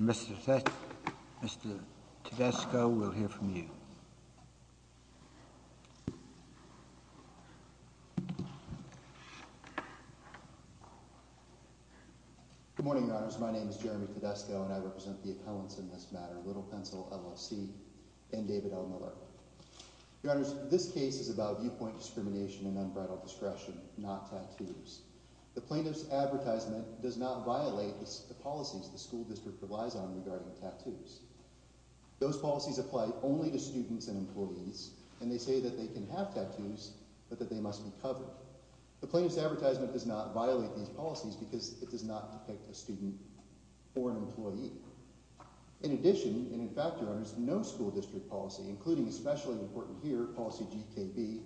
Mr. Tedesco, we'll hear from you. Good morning, Your Honors. My name is Jeremy Tedesco, and I represent the appellants in this matter, Little Pencil, L.L.C., and David L. Miller. Your Honors, this case is about viewpoint discrimination and unbridled discretion, not tattoos. The plaintiff's advertisement does not violate the policies the school district relies on regarding tattoos. Those policies apply only to students and employees, and they say that they can have tattoos, but that they must be covered. The plaintiff's advertisement does not violate these policies because it does not depict a student or an employee. In addition, and in fact, Your Honors, no school district policy, including especially important here, policy GKB,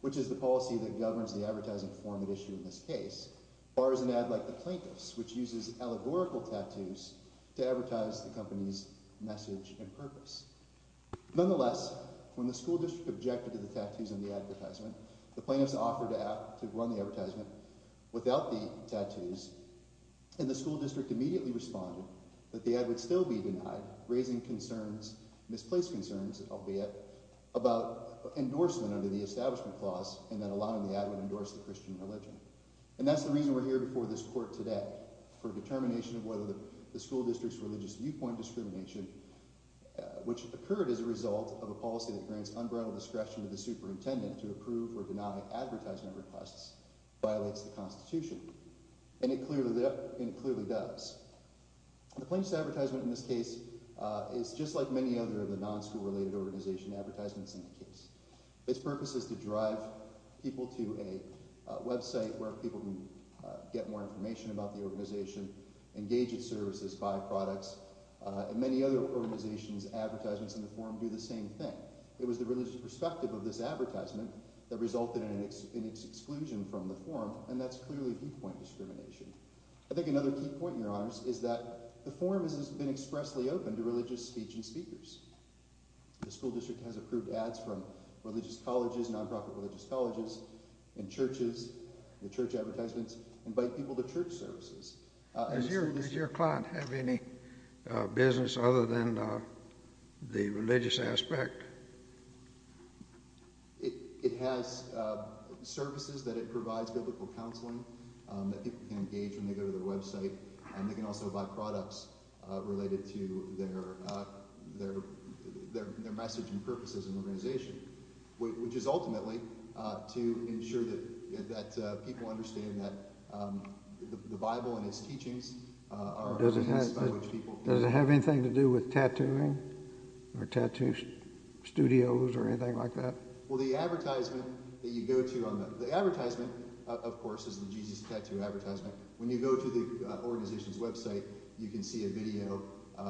which is the policy that governs the advertising form at issue in this case, bars an ad like the plaintiff's, which uses allegorical tattoos to advertise the company's message and purpose. Nonetheless, when the school district objected to the tattoos in the advertisement, the plaintiff's offered to run the advertisement without the tattoos, and the school district immediately responded that the ad would still be denied, raising concerns, misplaced concerns, albeit, about endorsement under the establishment clause, and that allowing the ad would endorse the Christian religion. And that's the reason we're here before this court today, for determination of whether the school district's religious viewpoint discrimination, which occurred as a result of a policy that grants unbridled discretion to the superintendent to approve or deny advertisement requests, violates the Constitution. And it clearly does. The plaintiff's advertisement in this case is just like many other of the non-school-related organization advertisements in the case. Its purpose is to drive people to a website where people can get more information about the organization, engage its services, buy products, and many other organizations' advertisements in the form do the same thing. It was the religious perspective of this advertisement that resulted in its exclusion from the form, and that's clearly viewpoint discrimination. I think another key point, Your Honors, is that the forum has been expressly open to religious speech and speakers. The school district has approved ads from religious colleges, nonprofit religious colleges, and churches. The church advertisements invite people to church services. Does your client have any business other than the religious aspect? It has services that it provides, biblical counseling, that people can engage when they go to their website, and they can also buy products related to their message and purposes in the organization, which is ultimately to ensure that people understand that the Bible and its teachings are evidenced by which people... Does it have anything to do with tattooing or tattoo studios or anything like that? Well, the advertisement that you go to on the... The advertisement, of course, is the Jesus Tattoo advertisement. When you go to the organization's website, you can see a video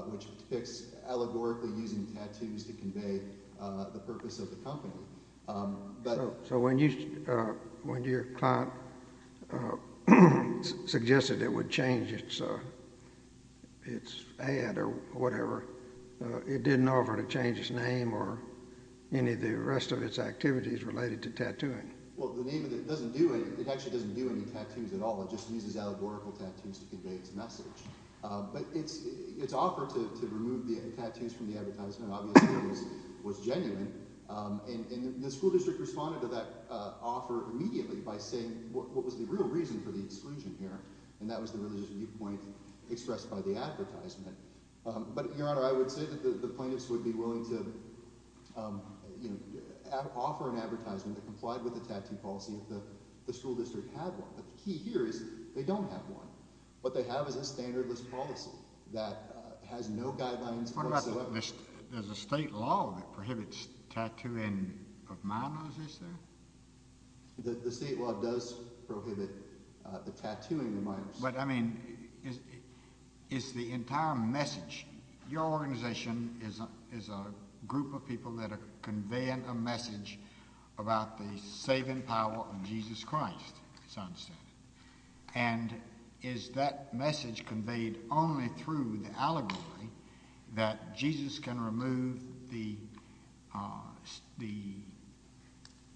which depicts allegorically using tattoos to convey the purpose of the company. So when your client suggested it would change its ad or whatever, it didn't offer to change its name or any of the rest of its activities related to tattooing? Well, the name of it doesn't do any... It actually doesn't do any tattoos at all. It just uses allegorical tattoos to convey its message. But its offer to remove the tattoos from the advertisement obviously was genuine, and the school district responded to that offer immediately by saying what was the real reason for the exclusion here, and that was the religious viewpoint expressed by the advertisement. But, Your Honor, I would say that the plaintiffs would be willing to offer an advertisement that complied with the tattoo policy if the school district had one. But the key here is they don't have one. What they have is There's a state law that prohibits tattooing of minors, is there? The state law does prohibit the tattooing of minors. But, I mean, it's the entire message. Your organization is a group of people that are conveying a message about the saving power of Jesus Christ, as I understand it. And is that message conveyed only through the allegory that Jesus can remove the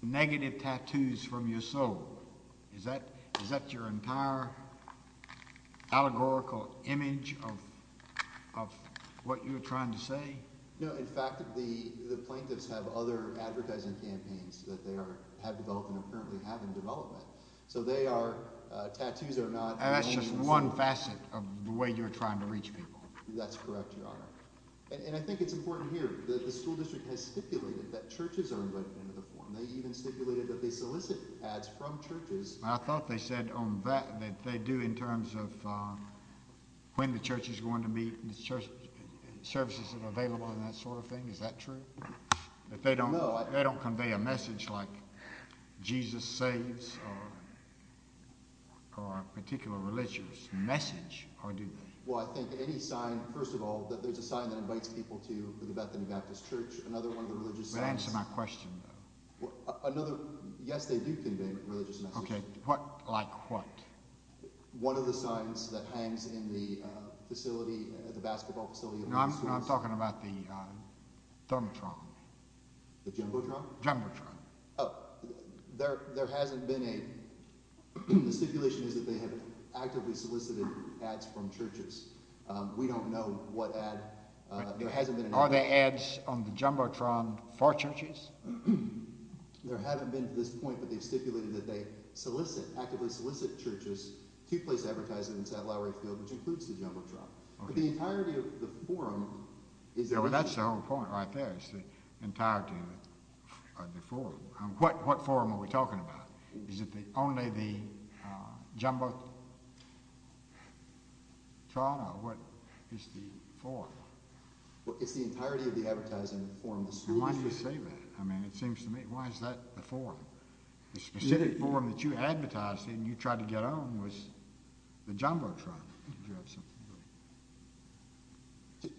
negative tattoos from your soul? Is that your entire allegorical image of what you're trying to say? No, in fact, the plaintiffs have other advertising campaigns that they have developed and currently have in development. So they are, tattoos are not... That's just one facet of the way you're trying to reach people. That's correct, Your Honor. And I think it's important here that the school district has stipulated that churches are invited into the forum. They even stipulated that they solicit ads from churches. I thought they said on that that they do in terms of when the church is going to meet and services are available and that sort of thing. Is that true? No. They don't convey a message like Jesus saves or a particular religious message, or do they? Well, I think any sign, first of all, that there's a sign that invites people to the Bethany Baptist Church, another one of the religious signs... That answers my question, though. Another, yes, they do convey religious messages. Okay, what, like what? One of the signs that hangs in the facility, the basketball facility... No, I'm talking about the Jumbotron. The Jumbotron? Jumbotron. Oh, there hasn't been a, the stipulation is that they have actively solicited ads from churches. We don't know what ad, there hasn't been an ad... Are there ads on the Jumbotron for churches? There haven't been to this point, but they've stipulated that they solicit, actively solicit churches to place advertising in Saddle Lowry Field, which includes the Jumbotron. Okay. But the entirety of the forum is... Well, that's the whole point right there, is the entirety of the forum. What forum are we talking about? Is it only the Jumbotron, or what is the forum? Well, it's the entirety of the advertising in the forum. Why do you say that? I mean, it seems to me, why is that the forum? The specific forum that you advertised and you tried to get on was the Jumbotron.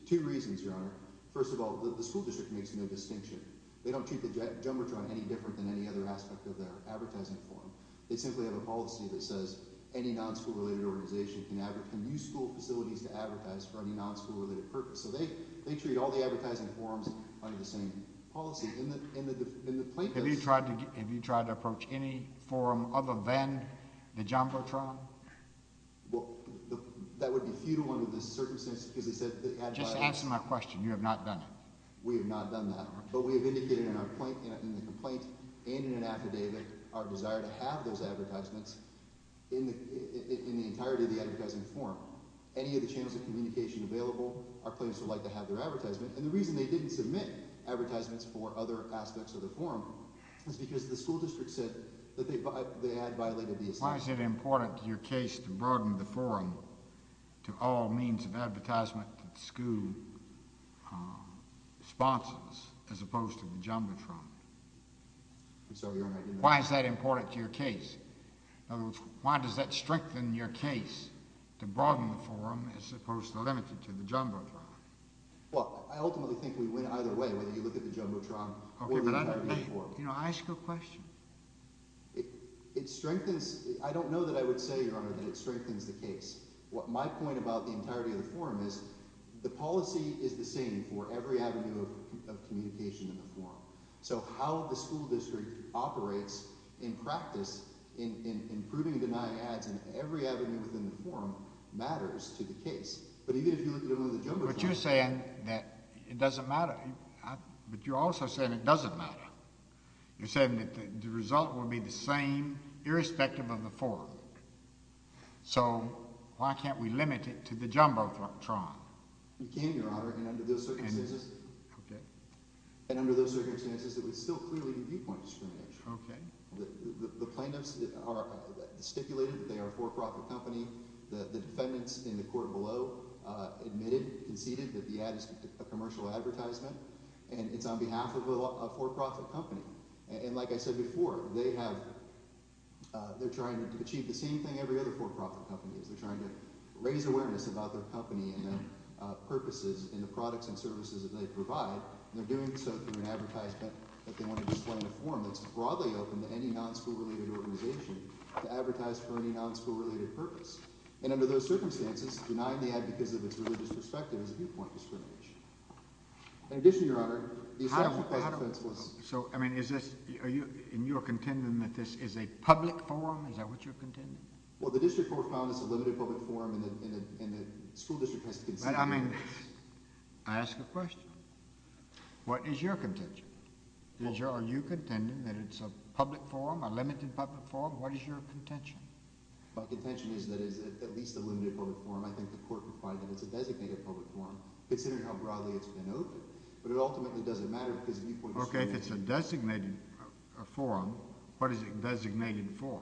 Two reasons, Your Honor. First of all, the school district makes no distinction. They don't treat the Jumbotron any different than any other aspect of their advertising forum. They simply have a policy that says any non-school related organization can use school facilities to advertise for any non-school related purpose. So they treat all the advertising forums under the same policy. In the plaintiffs... Have you tried to approach any forum other than the Jumbotron? Well, that would be futile under the circumstances because they said... Just answer my question. You have not done it. We have not done that. But we have indicated in the complaint and in an affidavit our desire to have those advertisements in the entirety of the advertising forum. Any of the channels of communication available, our plaintiffs would like to have their advertisements. And the reason they didn't submit advertisements for other aspects of the forum is because the school district said that they had violated the assumption. Why is it important to your case to broaden the forum to all means of advertisement to the school sponsors as opposed to the Jumbotron? I'm sorry. You're right. Why is that important to your case? In other words, why does that strengthen your case to broaden the forum as opposed to limit it to the Jumbotron? Well, I ultimately think we win either way, whether you look at the Jumbotron or the advertising forum. You know, ask a question. It strengthens—I don't know that I would say, Your Honor, that it strengthens the case. My point about the entirety of the forum is the policy is the same for every avenue of communication in the forum. So how the school district operates in practice in proving and denying ads in every avenue within the forum matters to the case. But even if you look at the Jumbotron— But you're saying that it doesn't matter. But you also said it doesn't matter. You're saying that the result will be the same irrespective of the forum. So why can't we limit it to the Jumbotron? You can, Your Honor, and under those circumstances— Okay. And under those circumstances, it would still clearly be viewpoint discrimination. Okay. The plaintiffs stipulated that they are a for-profit company. The defendants in the court below admitted, conceded, that the ad is a commercial advertisement. And it's on behalf of a for-profit company. And like I said before, they have—they're trying to achieve the same thing every other for-profit company is. They're trying to raise awareness about their company and their purposes in the products and services that they provide. And they're doing so through an advertisement that they want to display in a forum that's broadly open to any non-school-related organization to advertise for any non-school-related purpose. And under those circumstances, denying the ad because of its religious perspective is a viewpoint discrimination. In addition, Your Honor— So, I mean, is this—and you are contending that this is a public forum? Is that what you're contending? Well, the district court found it's a limited public forum, and the school district has to— I mean, I ask a question. What is your contention? Are you contending that it's a public forum, a limited public forum? What is your contention? My contention is that it is at least a limited public forum. I think the court can find that it's a designated public forum, considering how broadly it's been open. But it ultimately doesn't matter because the viewpoint is— Okay, if it's a designated forum, what is it designated for?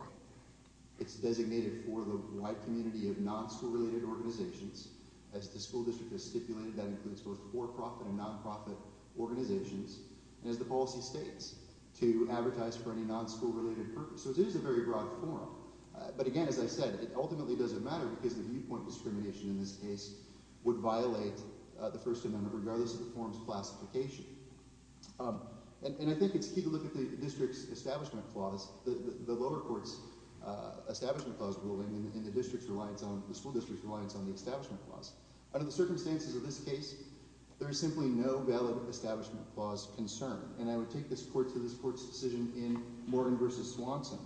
It's designated for the white community of non-school-related organizations. As the school district has stipulated, that includes both for-profit and non-profit organizations, and as the policy states, to advertise for any non-school-related purpose. So it is a very broad forum. But again, as I said, it ultimately doesn't matter because the viewpoint discrimination in this case would violate the First Amendment, regardless of the forum's classification. And I think it's key to look at the district's establishment clause, the lower court's establishment clause ruling, and the school district's reliance on the establishment clause. Under the circumstances of this case, there is simply no valid establishment clause concern. And I would take this court to this court's decision in Morgan v. Swanson,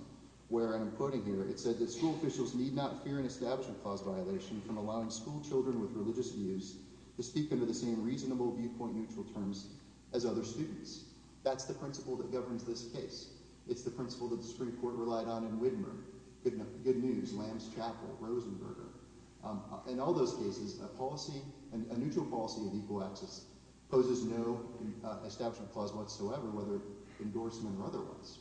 where I'm quoting here. It said that school officials need not fear an establishment clause violation from allowing schoolchildren with religious views to speak under the same reasonable viewpoint-neutral terms as other students. That's the principle that governs this case. It's the principle that the Supreme Court relied on in Wittenberg, Good News, Lamb's Chapel, Rosenberger. In all those cases, a policy, a neutral policy of equal access poses no establishment clause whatsoever, whether endorsement or otherwise.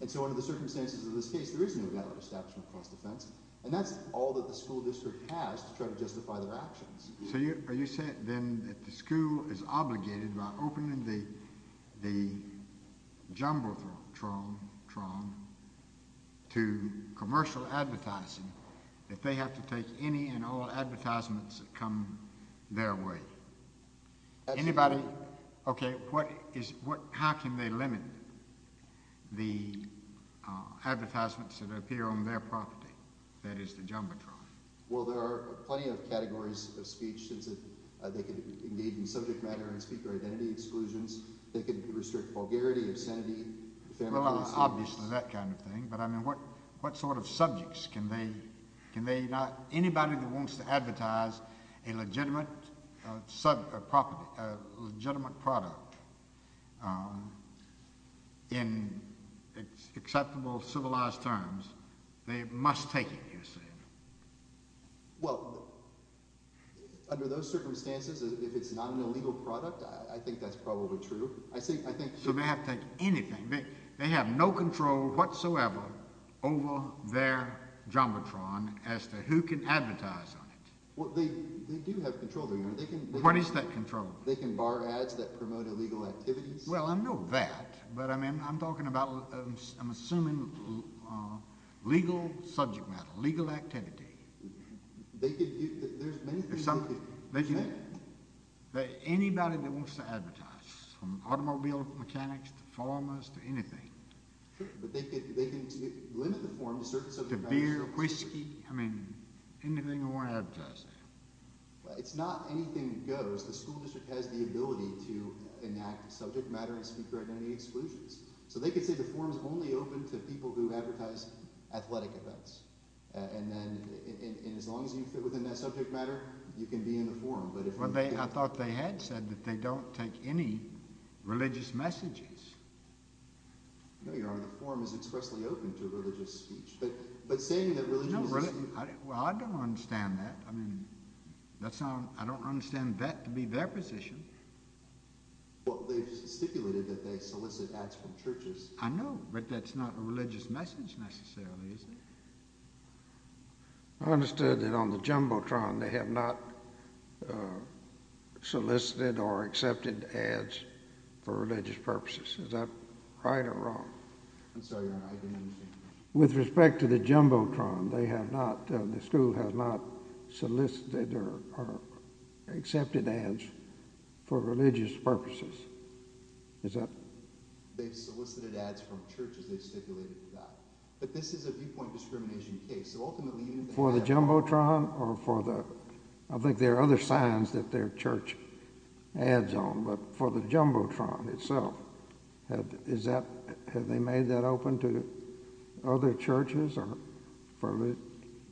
And so under the circumstances of this case, there is no valid establishment clause defense. And that's all that the school district has to try to justify their actions. So are you saying then that the school is obligated by opening the Jumbotron to commercial advertising that they have to take any and all advertisements that come their way? Anybody? Okay. How can they limit the advertisements that appear on their property, that is the Jumbotron? Well, there are plenty of categories of speech. They can engage in subject matter and speaker identity exclusions. They can restrict vulgarity, obscenity. Obviously, that kind of thing. But I mean, what sort of subjects can they – anybody that wants to advertise a legitimate product in acceptable, civilized terms, they must take it, you see. Well, under those circumstances, if it's not an illegal product, I think that's probably true. So they have to take anything. They have no control whatsoever over their Jumbotron as to who can advertise on it. Well, they do have control. What is that control? They can bar ads that promote illegal activities. Well, I know that, but I mean, I'm talking about – I'm assuming legal subject matter, legal activity. There's many things they can do. Anybody that wants to advertise, from automobile mechanics to farmers to anything. Sure, but they can limit the form to certain subjects. To beer, whiskey. I mean, anything they want to advertise there. It's not anything that goes. The school district has the ability to enact subject matter and speaker identity exclusions. So they can say the forum is only open to people who advertise athletic events. And then as long as you fit within that subject matter, you can be in the forum. Well, I thought they had said that they don't take any religious messages. No, Your Honor. The forum is expressly open to religious speech. But saying that religious speech – Well, I don't understand that. I mean, that's not – I don't understand that to be their position. Well, they just stipulated that they solicit ads from churches. I know, but that's not a religious message necessarily, is it? I understood that on the Jumbotron they have not solicited or accepted ads for religious purposes. Is that right or wrong? I'm sorry, Your Honor, I didn't understand that. With respect to the Jumbotron, they have not – the school has not solicited or accepted ads for religious purposes. Is that – They've solicited ads from churches. They've stipulated that. But this is a viewpoint discrimination case. So ultimately – For the Jumbotron or for the – I think there are other signs that they're church ads on. But for the Jumbotron itself, is that – have they made that open to other churches or for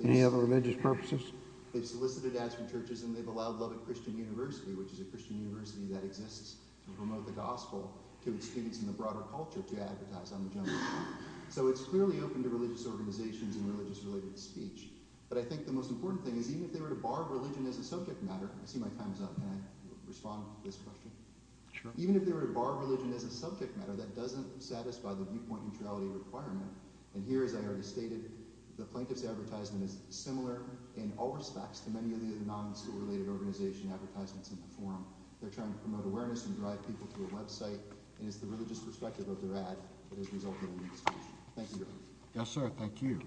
any other religious purposes? They've solicited ads from churches and they've allowed Lubbock Christian University, which is a Christian university that exists to promote the gospel, to its students in the broader culture to advertise on the Jumbotron. So it's clearly open to religious organizations and religious-related speech. But I think the most important thing is even if they were to bar religion as a subject matter – I see my time is up. Can I respond to this question? Sure. Even if they were to bar religion as a subject matter, that doesn't satisfy the viewpoint neutrality requirement. And here, as I already stated, the plaintiff's advertisement is similar in all respects to many of the non-school-related organization advertisements in the forum. They're trying to promote awareness and drive people to a website. And it's the religious perspective of their ad that has resulted in this situation. Thank you, Your Honor. Yes, sir. Thank you.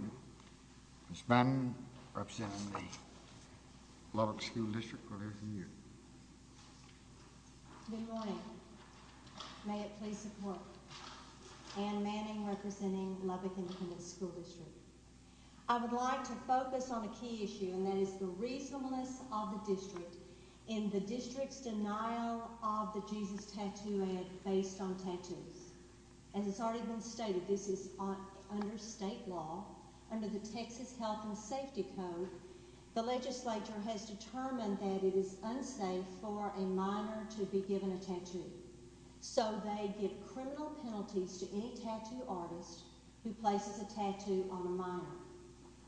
Ms. Manning, representing the Lubbock School District. Good afternoon. Good morning. May it please the Court. Ann Manning, representing Lubbock Independent School District. I would like to focus on a key issue, and that is the reasonableness of the district in the district's denial of the Jesus Tattoo ad based on tattoos. As has already been stated, this is under state law. Under the Texas Health and Safety Code, the legislature has determined that it is unsafe for a minor to be given a tattoo. So they give criminal penalties to any tattoo artist who places a tattoo on a minor.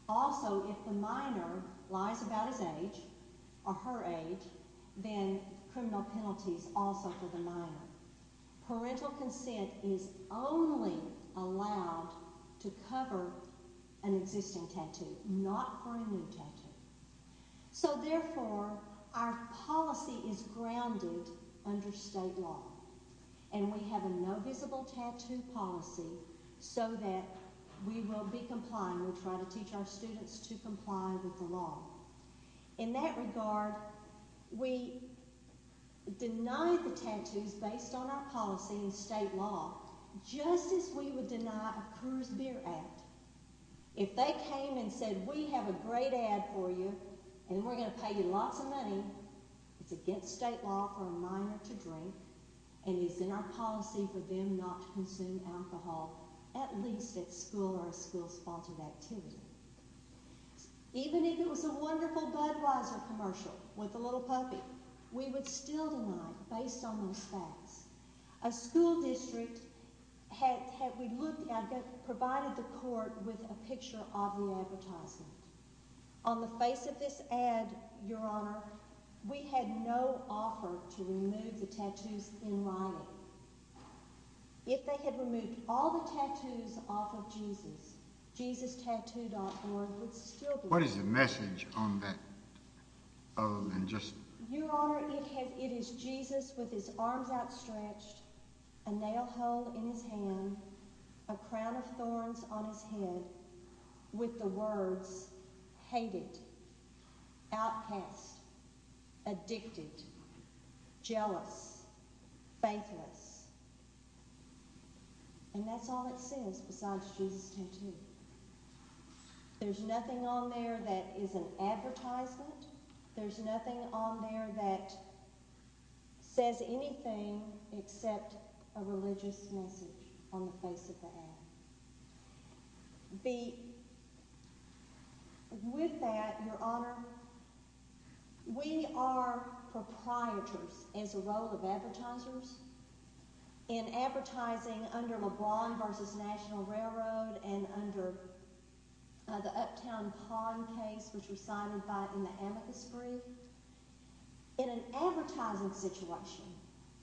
Also, if the minor lies about his age or her age, then criminal penalties also for the minor. Parental consent is only allowed to cover an existing tattoo, not for a new tattoo. So, therefore, our policy is grounded under state law. And we have a no visible tattoo policy so that we will be complying. We try to teach our students to comply with the law. In that regard, we deny the tattoos based on our policy and state law, just as we would deny a Cruse Beer ad. If they came and said, we have a great ad for you, and we're going to pay you lots of money, it's against state law for a minor to drink, and it's in our policy for them not to consume alcohol, at least at school or a school-sponsored activity. Even if it was a wonderful Budweiser commercial with a little puppy, we would still deny based on those facts. A school district had provided the court with a picture of the advertisement. On the face of this ad, Your Honor, we had no offer to remove the tattoos in writing. If they had removed all the tattoos off of Jesus, jesustattoo.org would still be- What is the message on that? Your Honor, it is Jesus with his arms outstretched, a nail hole in his hand, a crown of thorns on his head, with the words hated, outcast, addicted, jealous, faithless. And that's all it says besides jesustattoo. There's nothing on there that is an advertisement. There's nothing on there that says anything except a religious message on the face of the ad. With that, Your Honor, we are proprietors, as a role of advertisers, in advertising under LeBron v. National Railroad and under the Uptown Pond case, which was cited in the amicus brief. In an advertising situation,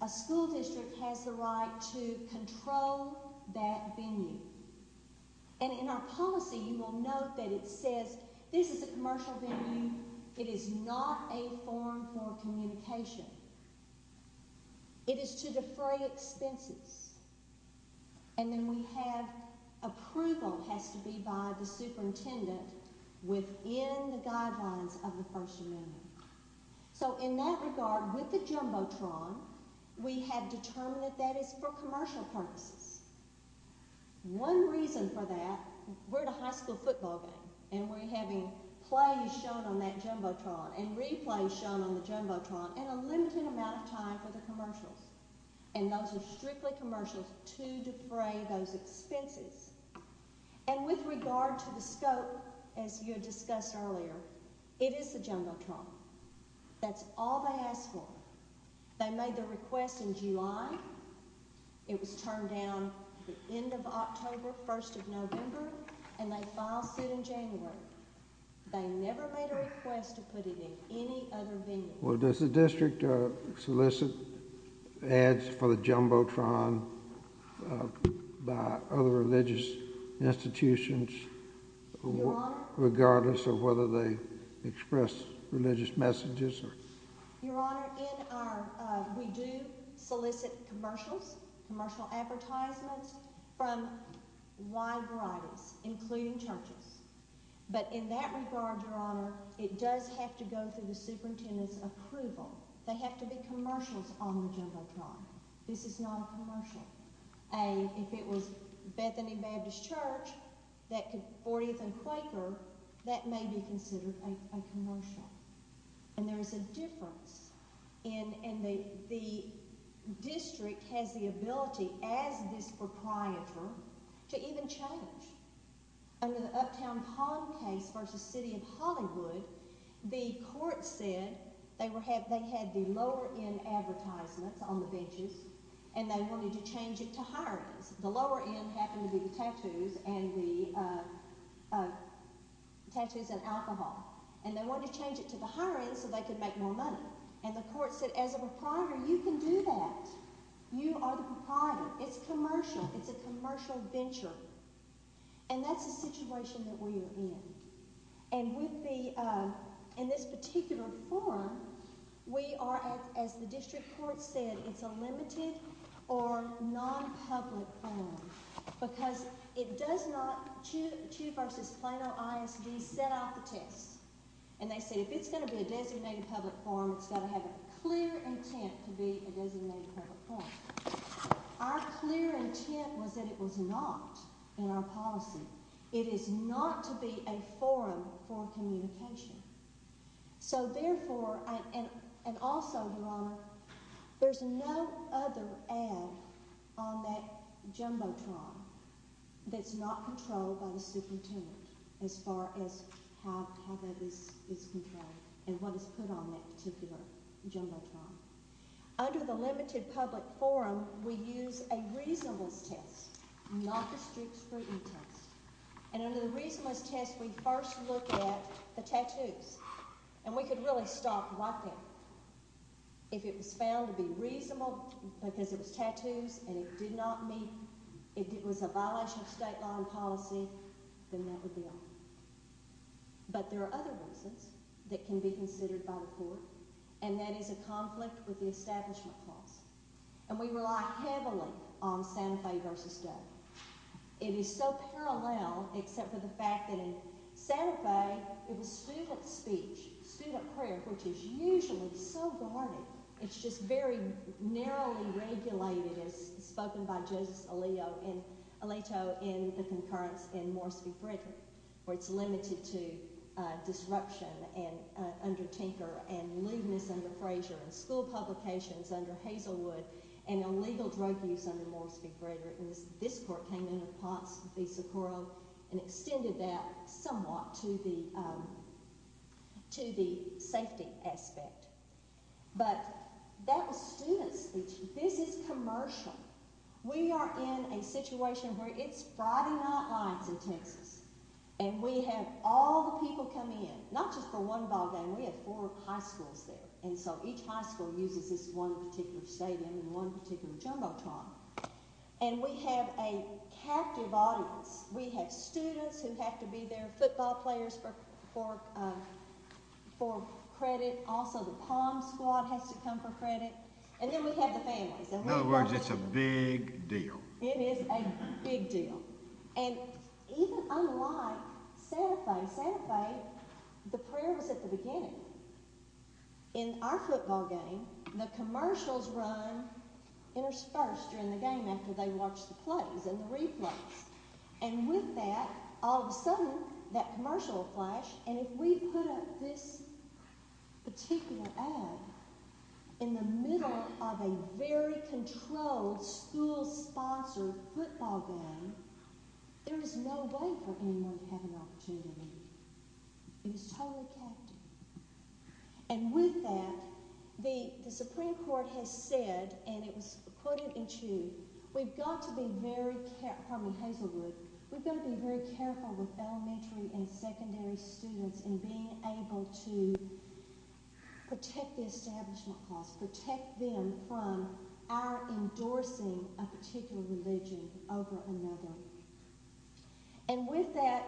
a school district has the right to control that venue. And in our policy, you will note that it says this is a commercial venue. It is not a forum for communication. It is to defray expenses. And then we have approval has to be by the superintendent within the guidelines of the First Amendment. So in that regard, with the Jumbotron, we have determined that that is for commercial purposes. One reason for that, we're at a high school football game, and we're having plays shown on that Jumbotron and replays shown on the Jumbotron in a limited amount of time for the commercials. And those are strictly commercials to defray those expenses. And with regard to the scope, as you had discussed earlier, it is the Jumbotron. That's all they ask for. They made the request in July. It was turned down at the end of October, first of November, and they filed suit in January. They never made a request to put it in any other venue. Well, does the district solicit ads for the Jumbotron by other religious institutions regardless of whether they express religious messages? Your Honor, we do solicit commercials, commercial advertisements from wide varieties, including churches. But in that regard, Your Honor, it does have to go through the superintendent's approval. They have to be commercials on the Jumbotron. This is not a commercial. If it was Bethany Baptist Church, 40th and Quaker, that may be considered a commercial. And there is a difference. And the district has the ability as this proprietor to even change. Under the Uptown Pond case versus City of Hollywood, the court said they had the lower end advertisements on the benches, and they wanted to change it to higher ends. The lower end happened to be the tattoos and alcohol. And they wanted to change it to the higher end so they could make more money. And the court said, as a proprietor, you can do that. You are the proprietor. It's commercial. It's a commercial venture. And that's the situation that we are in. And with the – in this particular forum, we are, as the district court said, it's a limited or nonpublic forum because it does not – CHU versus Plano ISD set out the tests. And they said if it's going to be a designated public forum, it's got to have a clear intent to be a designated public forum. Our clear intent was that it was not in our policy. It is not to be a forum for communication. So, therefore – and also, Your Honor, there's no other ad on that jumbotron that's not controlled by the superintendent as far as how that is controlled and what is put on that particular jumbotron. Under the limited public forum, we use a reasonableness test, not the strict scrutiny test. And under the reasonableness test, we first look at the tattoos. And we could really stop walking. If it was found to be reasonable because it was tattoos and it did not meet – it was a violation of state law and policy, then that would be all. But there are other reasons that can be considered by the court, and that is a conflict with the establishment clause. And we rely heavily on Santa Fe versus Doe. It is so parallel except for the fact that in Santa Fe, it was student speech, student prayer, which is usually so guarded. It's just very narrowly regulated, as spoken by Justice Alito in the concurrence in Morris v. Frederick, where it's limited to disruption under Tinker and lewdness under Frazier and school publications under Hazelwood and illegal drug use under Morris v. Frederick. And this court came in with Potts v. Socorro and extended that somewhat to the safety aspect. But that was student speech. This is commercial. We are in a situation where it's Friday night lights in Texas, and we have all the people come in, not just for one ballgame. We have four high schools there. And so each high school uses this one particular stadium and one particular jumbotron. And we have a captive audience. We have students who have to be there, football players for credit. Also, the Palm Squad has to come for credit. And then we have the families. In other words, it's a big deal. It is a big deal. And even unlike Santa Fe, Santa Fe, the prayer was at the beginning. In our football game, the commercials run interspersed during the game after they watch the plays and the replays. And with that, all of a sudden, that commercial will flash. And if we put up this particular ad in the middle of a very controlled school-sponsored football game, there is no way for anyone to have an opportunity. It is totally captive. And with that, the Supreme Court has said, and it was quoted in Chu, we've got to be very careful. Pardon me, Hazelwood. We've got to be very careful with elementary and secondary students in being able to protect the establishment class, protect them from our endorsing a particular religion over another. And with that,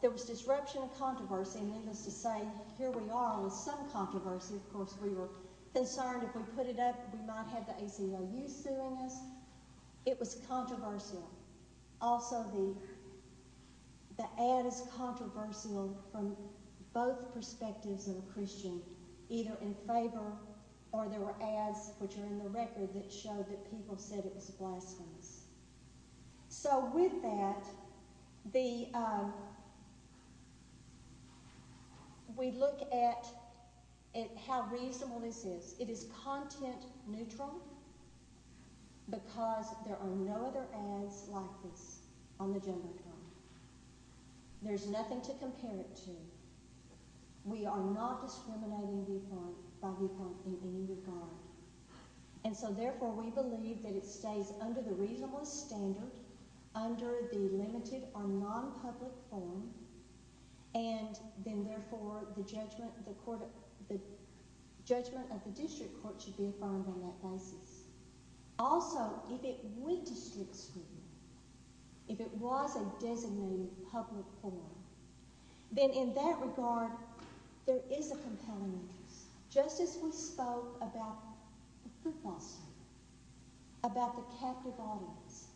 there was disruption of controversy. Needless to say, here we are with some controversy. Of course, we were concerned if we put it up, we might have the ACLU suing us. It was controversial. Also, the ad is controversial from both perspectives of a Christian, either in favor or there were ads, which are in the record, that showed that people said it was blasphemous. So with that, we look at how reasonable this is. It is content-neutral because there are no other ads like this on the Jumbotron. There's nothing to compare it to. We are not discriminating viewpoint by viewpoint in any regard. And so, therefore, we believe that it stays under the reasonable standard, under the limited or nonpublic forum, and then, therefore, the judgment of the district court should be affirmed on that basis. Also, if it was a designated public forum, then in that regard, there is a compelling interest. Just as we spoke about the football stadium, about the captive audience,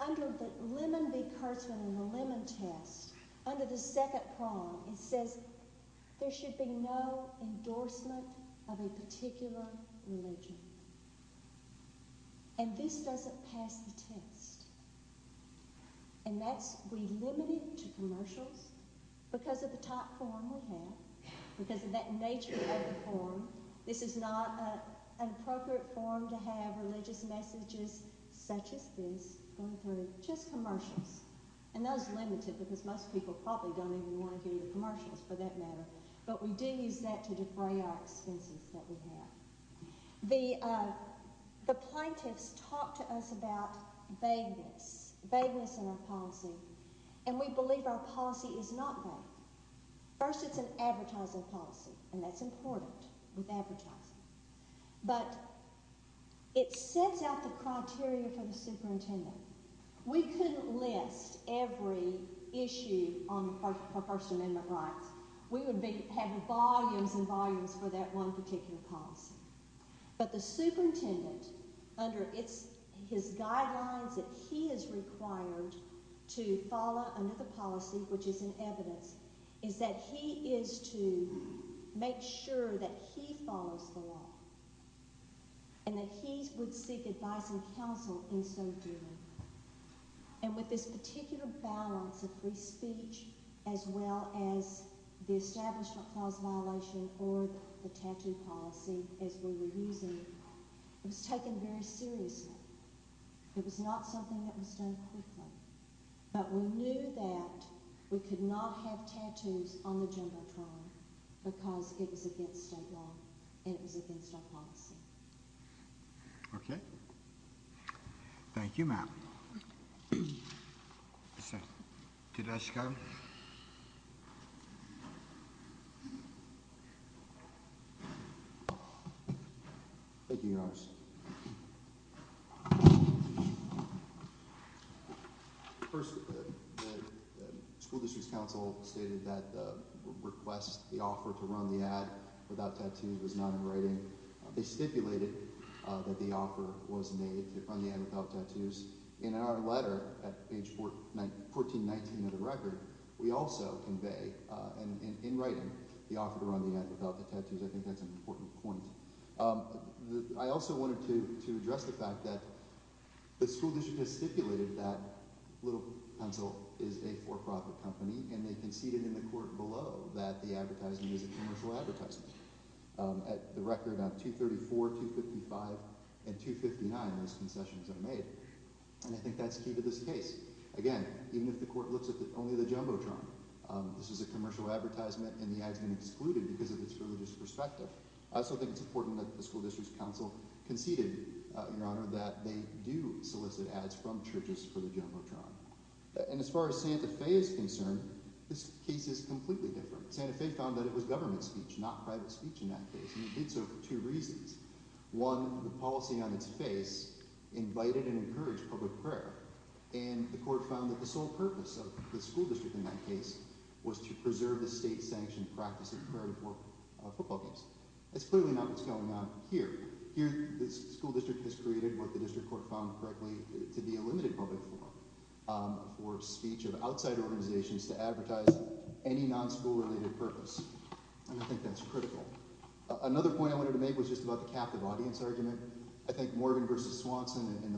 under the Lemon v. Kurtzman and the Lemon test, under the second prong, it says there should be no endorsement of a particular religion. And this doesn't pass the test. And that's – we limit it to commercials because of the type of forum we have, because of that nature of the forum. This is not an appropriate forum to have religious messages such as this going through, just commercials. And that is limited because most people probably don't even want to do the commercials, for that matter. But we do use that to defray our expenses that we have. The plaintiffs talk to us about vagueness, vagueness in our policy, and we believe our policy is not vague. First, it's an advertising policy, and that's important with advertising. But it sets out the criteria for the superintendent. We couldn't list every issue on the First Amendment rights. We would have volumes and volumes for that one particular policy. But the superintendent, under its – his guidelines that he is required to follow another policy, which is in evidence, is that he is to make sure that he follows the law and that he would seek advice and counsel in so doing. And with this particular balance of free speech as well as the Establishment Clause violation or the tattoo policy as we were using, it was taken very seriously. It was not something that was done quickly. But we knew that we could not have tattoos on the jumbotron because it was against state law and it was against our policy. Okay? Thank you, Matt. Mr. Tedesco. Thank you, Your Honors. First, the school district's counsel stated that the request, the offer to run the ad without tattoos was not in writing. They stipulated that the offer was made to run the ad without tattoos. In our letter at page 1419 of the record, we also convey in writing the offer to run the ad without the tattoos. I think that's an important point. I also wanted to address the fact that the school district has stipulated that Little Pencil is a for-profit company. And they conceded in the court below that the advertisement is a commercial advertisement. At the record of 234, 255, and 259, those concessions are made. And I think that's key to this case. Again, even if the court looks at only the jumbotron, this is a commercial advertisement and the ad has been excluded because of its religious perspective. I also think it's important that the school district's counsel conceded, Your Honor, that they do solicit ads from churches for the jumbotron. And as far as Santa Fe is concerned, this case is completely different. Santa Fe found that it was government speech, not private speech in that case, and it did so for two reasons. One, the policy on its face invited and encouraged public prayer. And the court found that the sole purpose of the school district in that case was to preserve the state-sanctioned practice of prayer before football games. That's clearly not what's going on here. Here the school district has created what the district court found correctly to be a limited public forum for speech of outside organizations to advertise any non-school-related purpose. And I think that's critical. Another point I wanted to make was just about the captive audience argument. I think Morgan v. Swanson in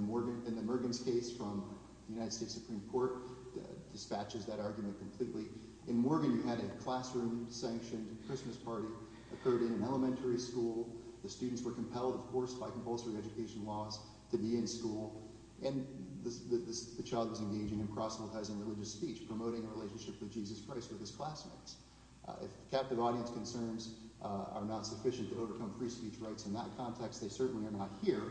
the Murgans case from the United States Supreme Court dispatches that argument completely. In Morgan, you had a classroom-sanctioned Christmas party occurred in an elementary school. The students were compelled, of course, by compulsory education laws to be in school. And the child was engaging in cross-sanctizing religious speech, promoting a relationship with Jesus Christ with his classmates. If captive audience concerns are not sufficient to overcome free speech rights in that context, they certainly are not here,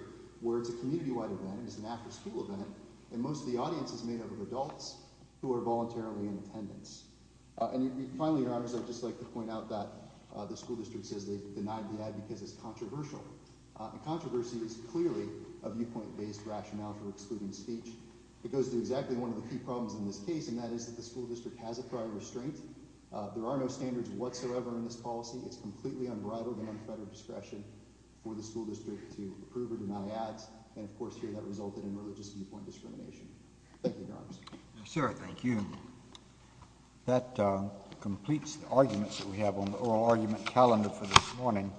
where it's a community-wide event. It's an after-school event, and most of the audience is made up of adults who are voluntarily in attendance. Finally, Your Honors, I'd just like to point out that the school district says they denied the ad because it's controversial. Controversy is clearly a viewpoint-based rationale for excluding speech. It goes to exactly one of the key problems in this case, and that is that the school district has a prior restraint. There are no standards whatsoever in this policy. It's completely unbridled and unfettered discretion for the school district to approve or deny ads. And, of course, here that resulted in religious viewpoint discrimination. Thank you, Your Honors. Yes, sir. Thank you. That completes the arguments that we have on the oral argument calendar for this morning.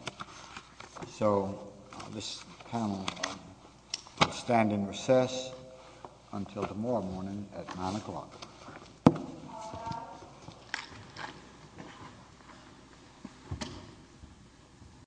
So this panel will stand in recess until tomorrow morning at 9 o'clock.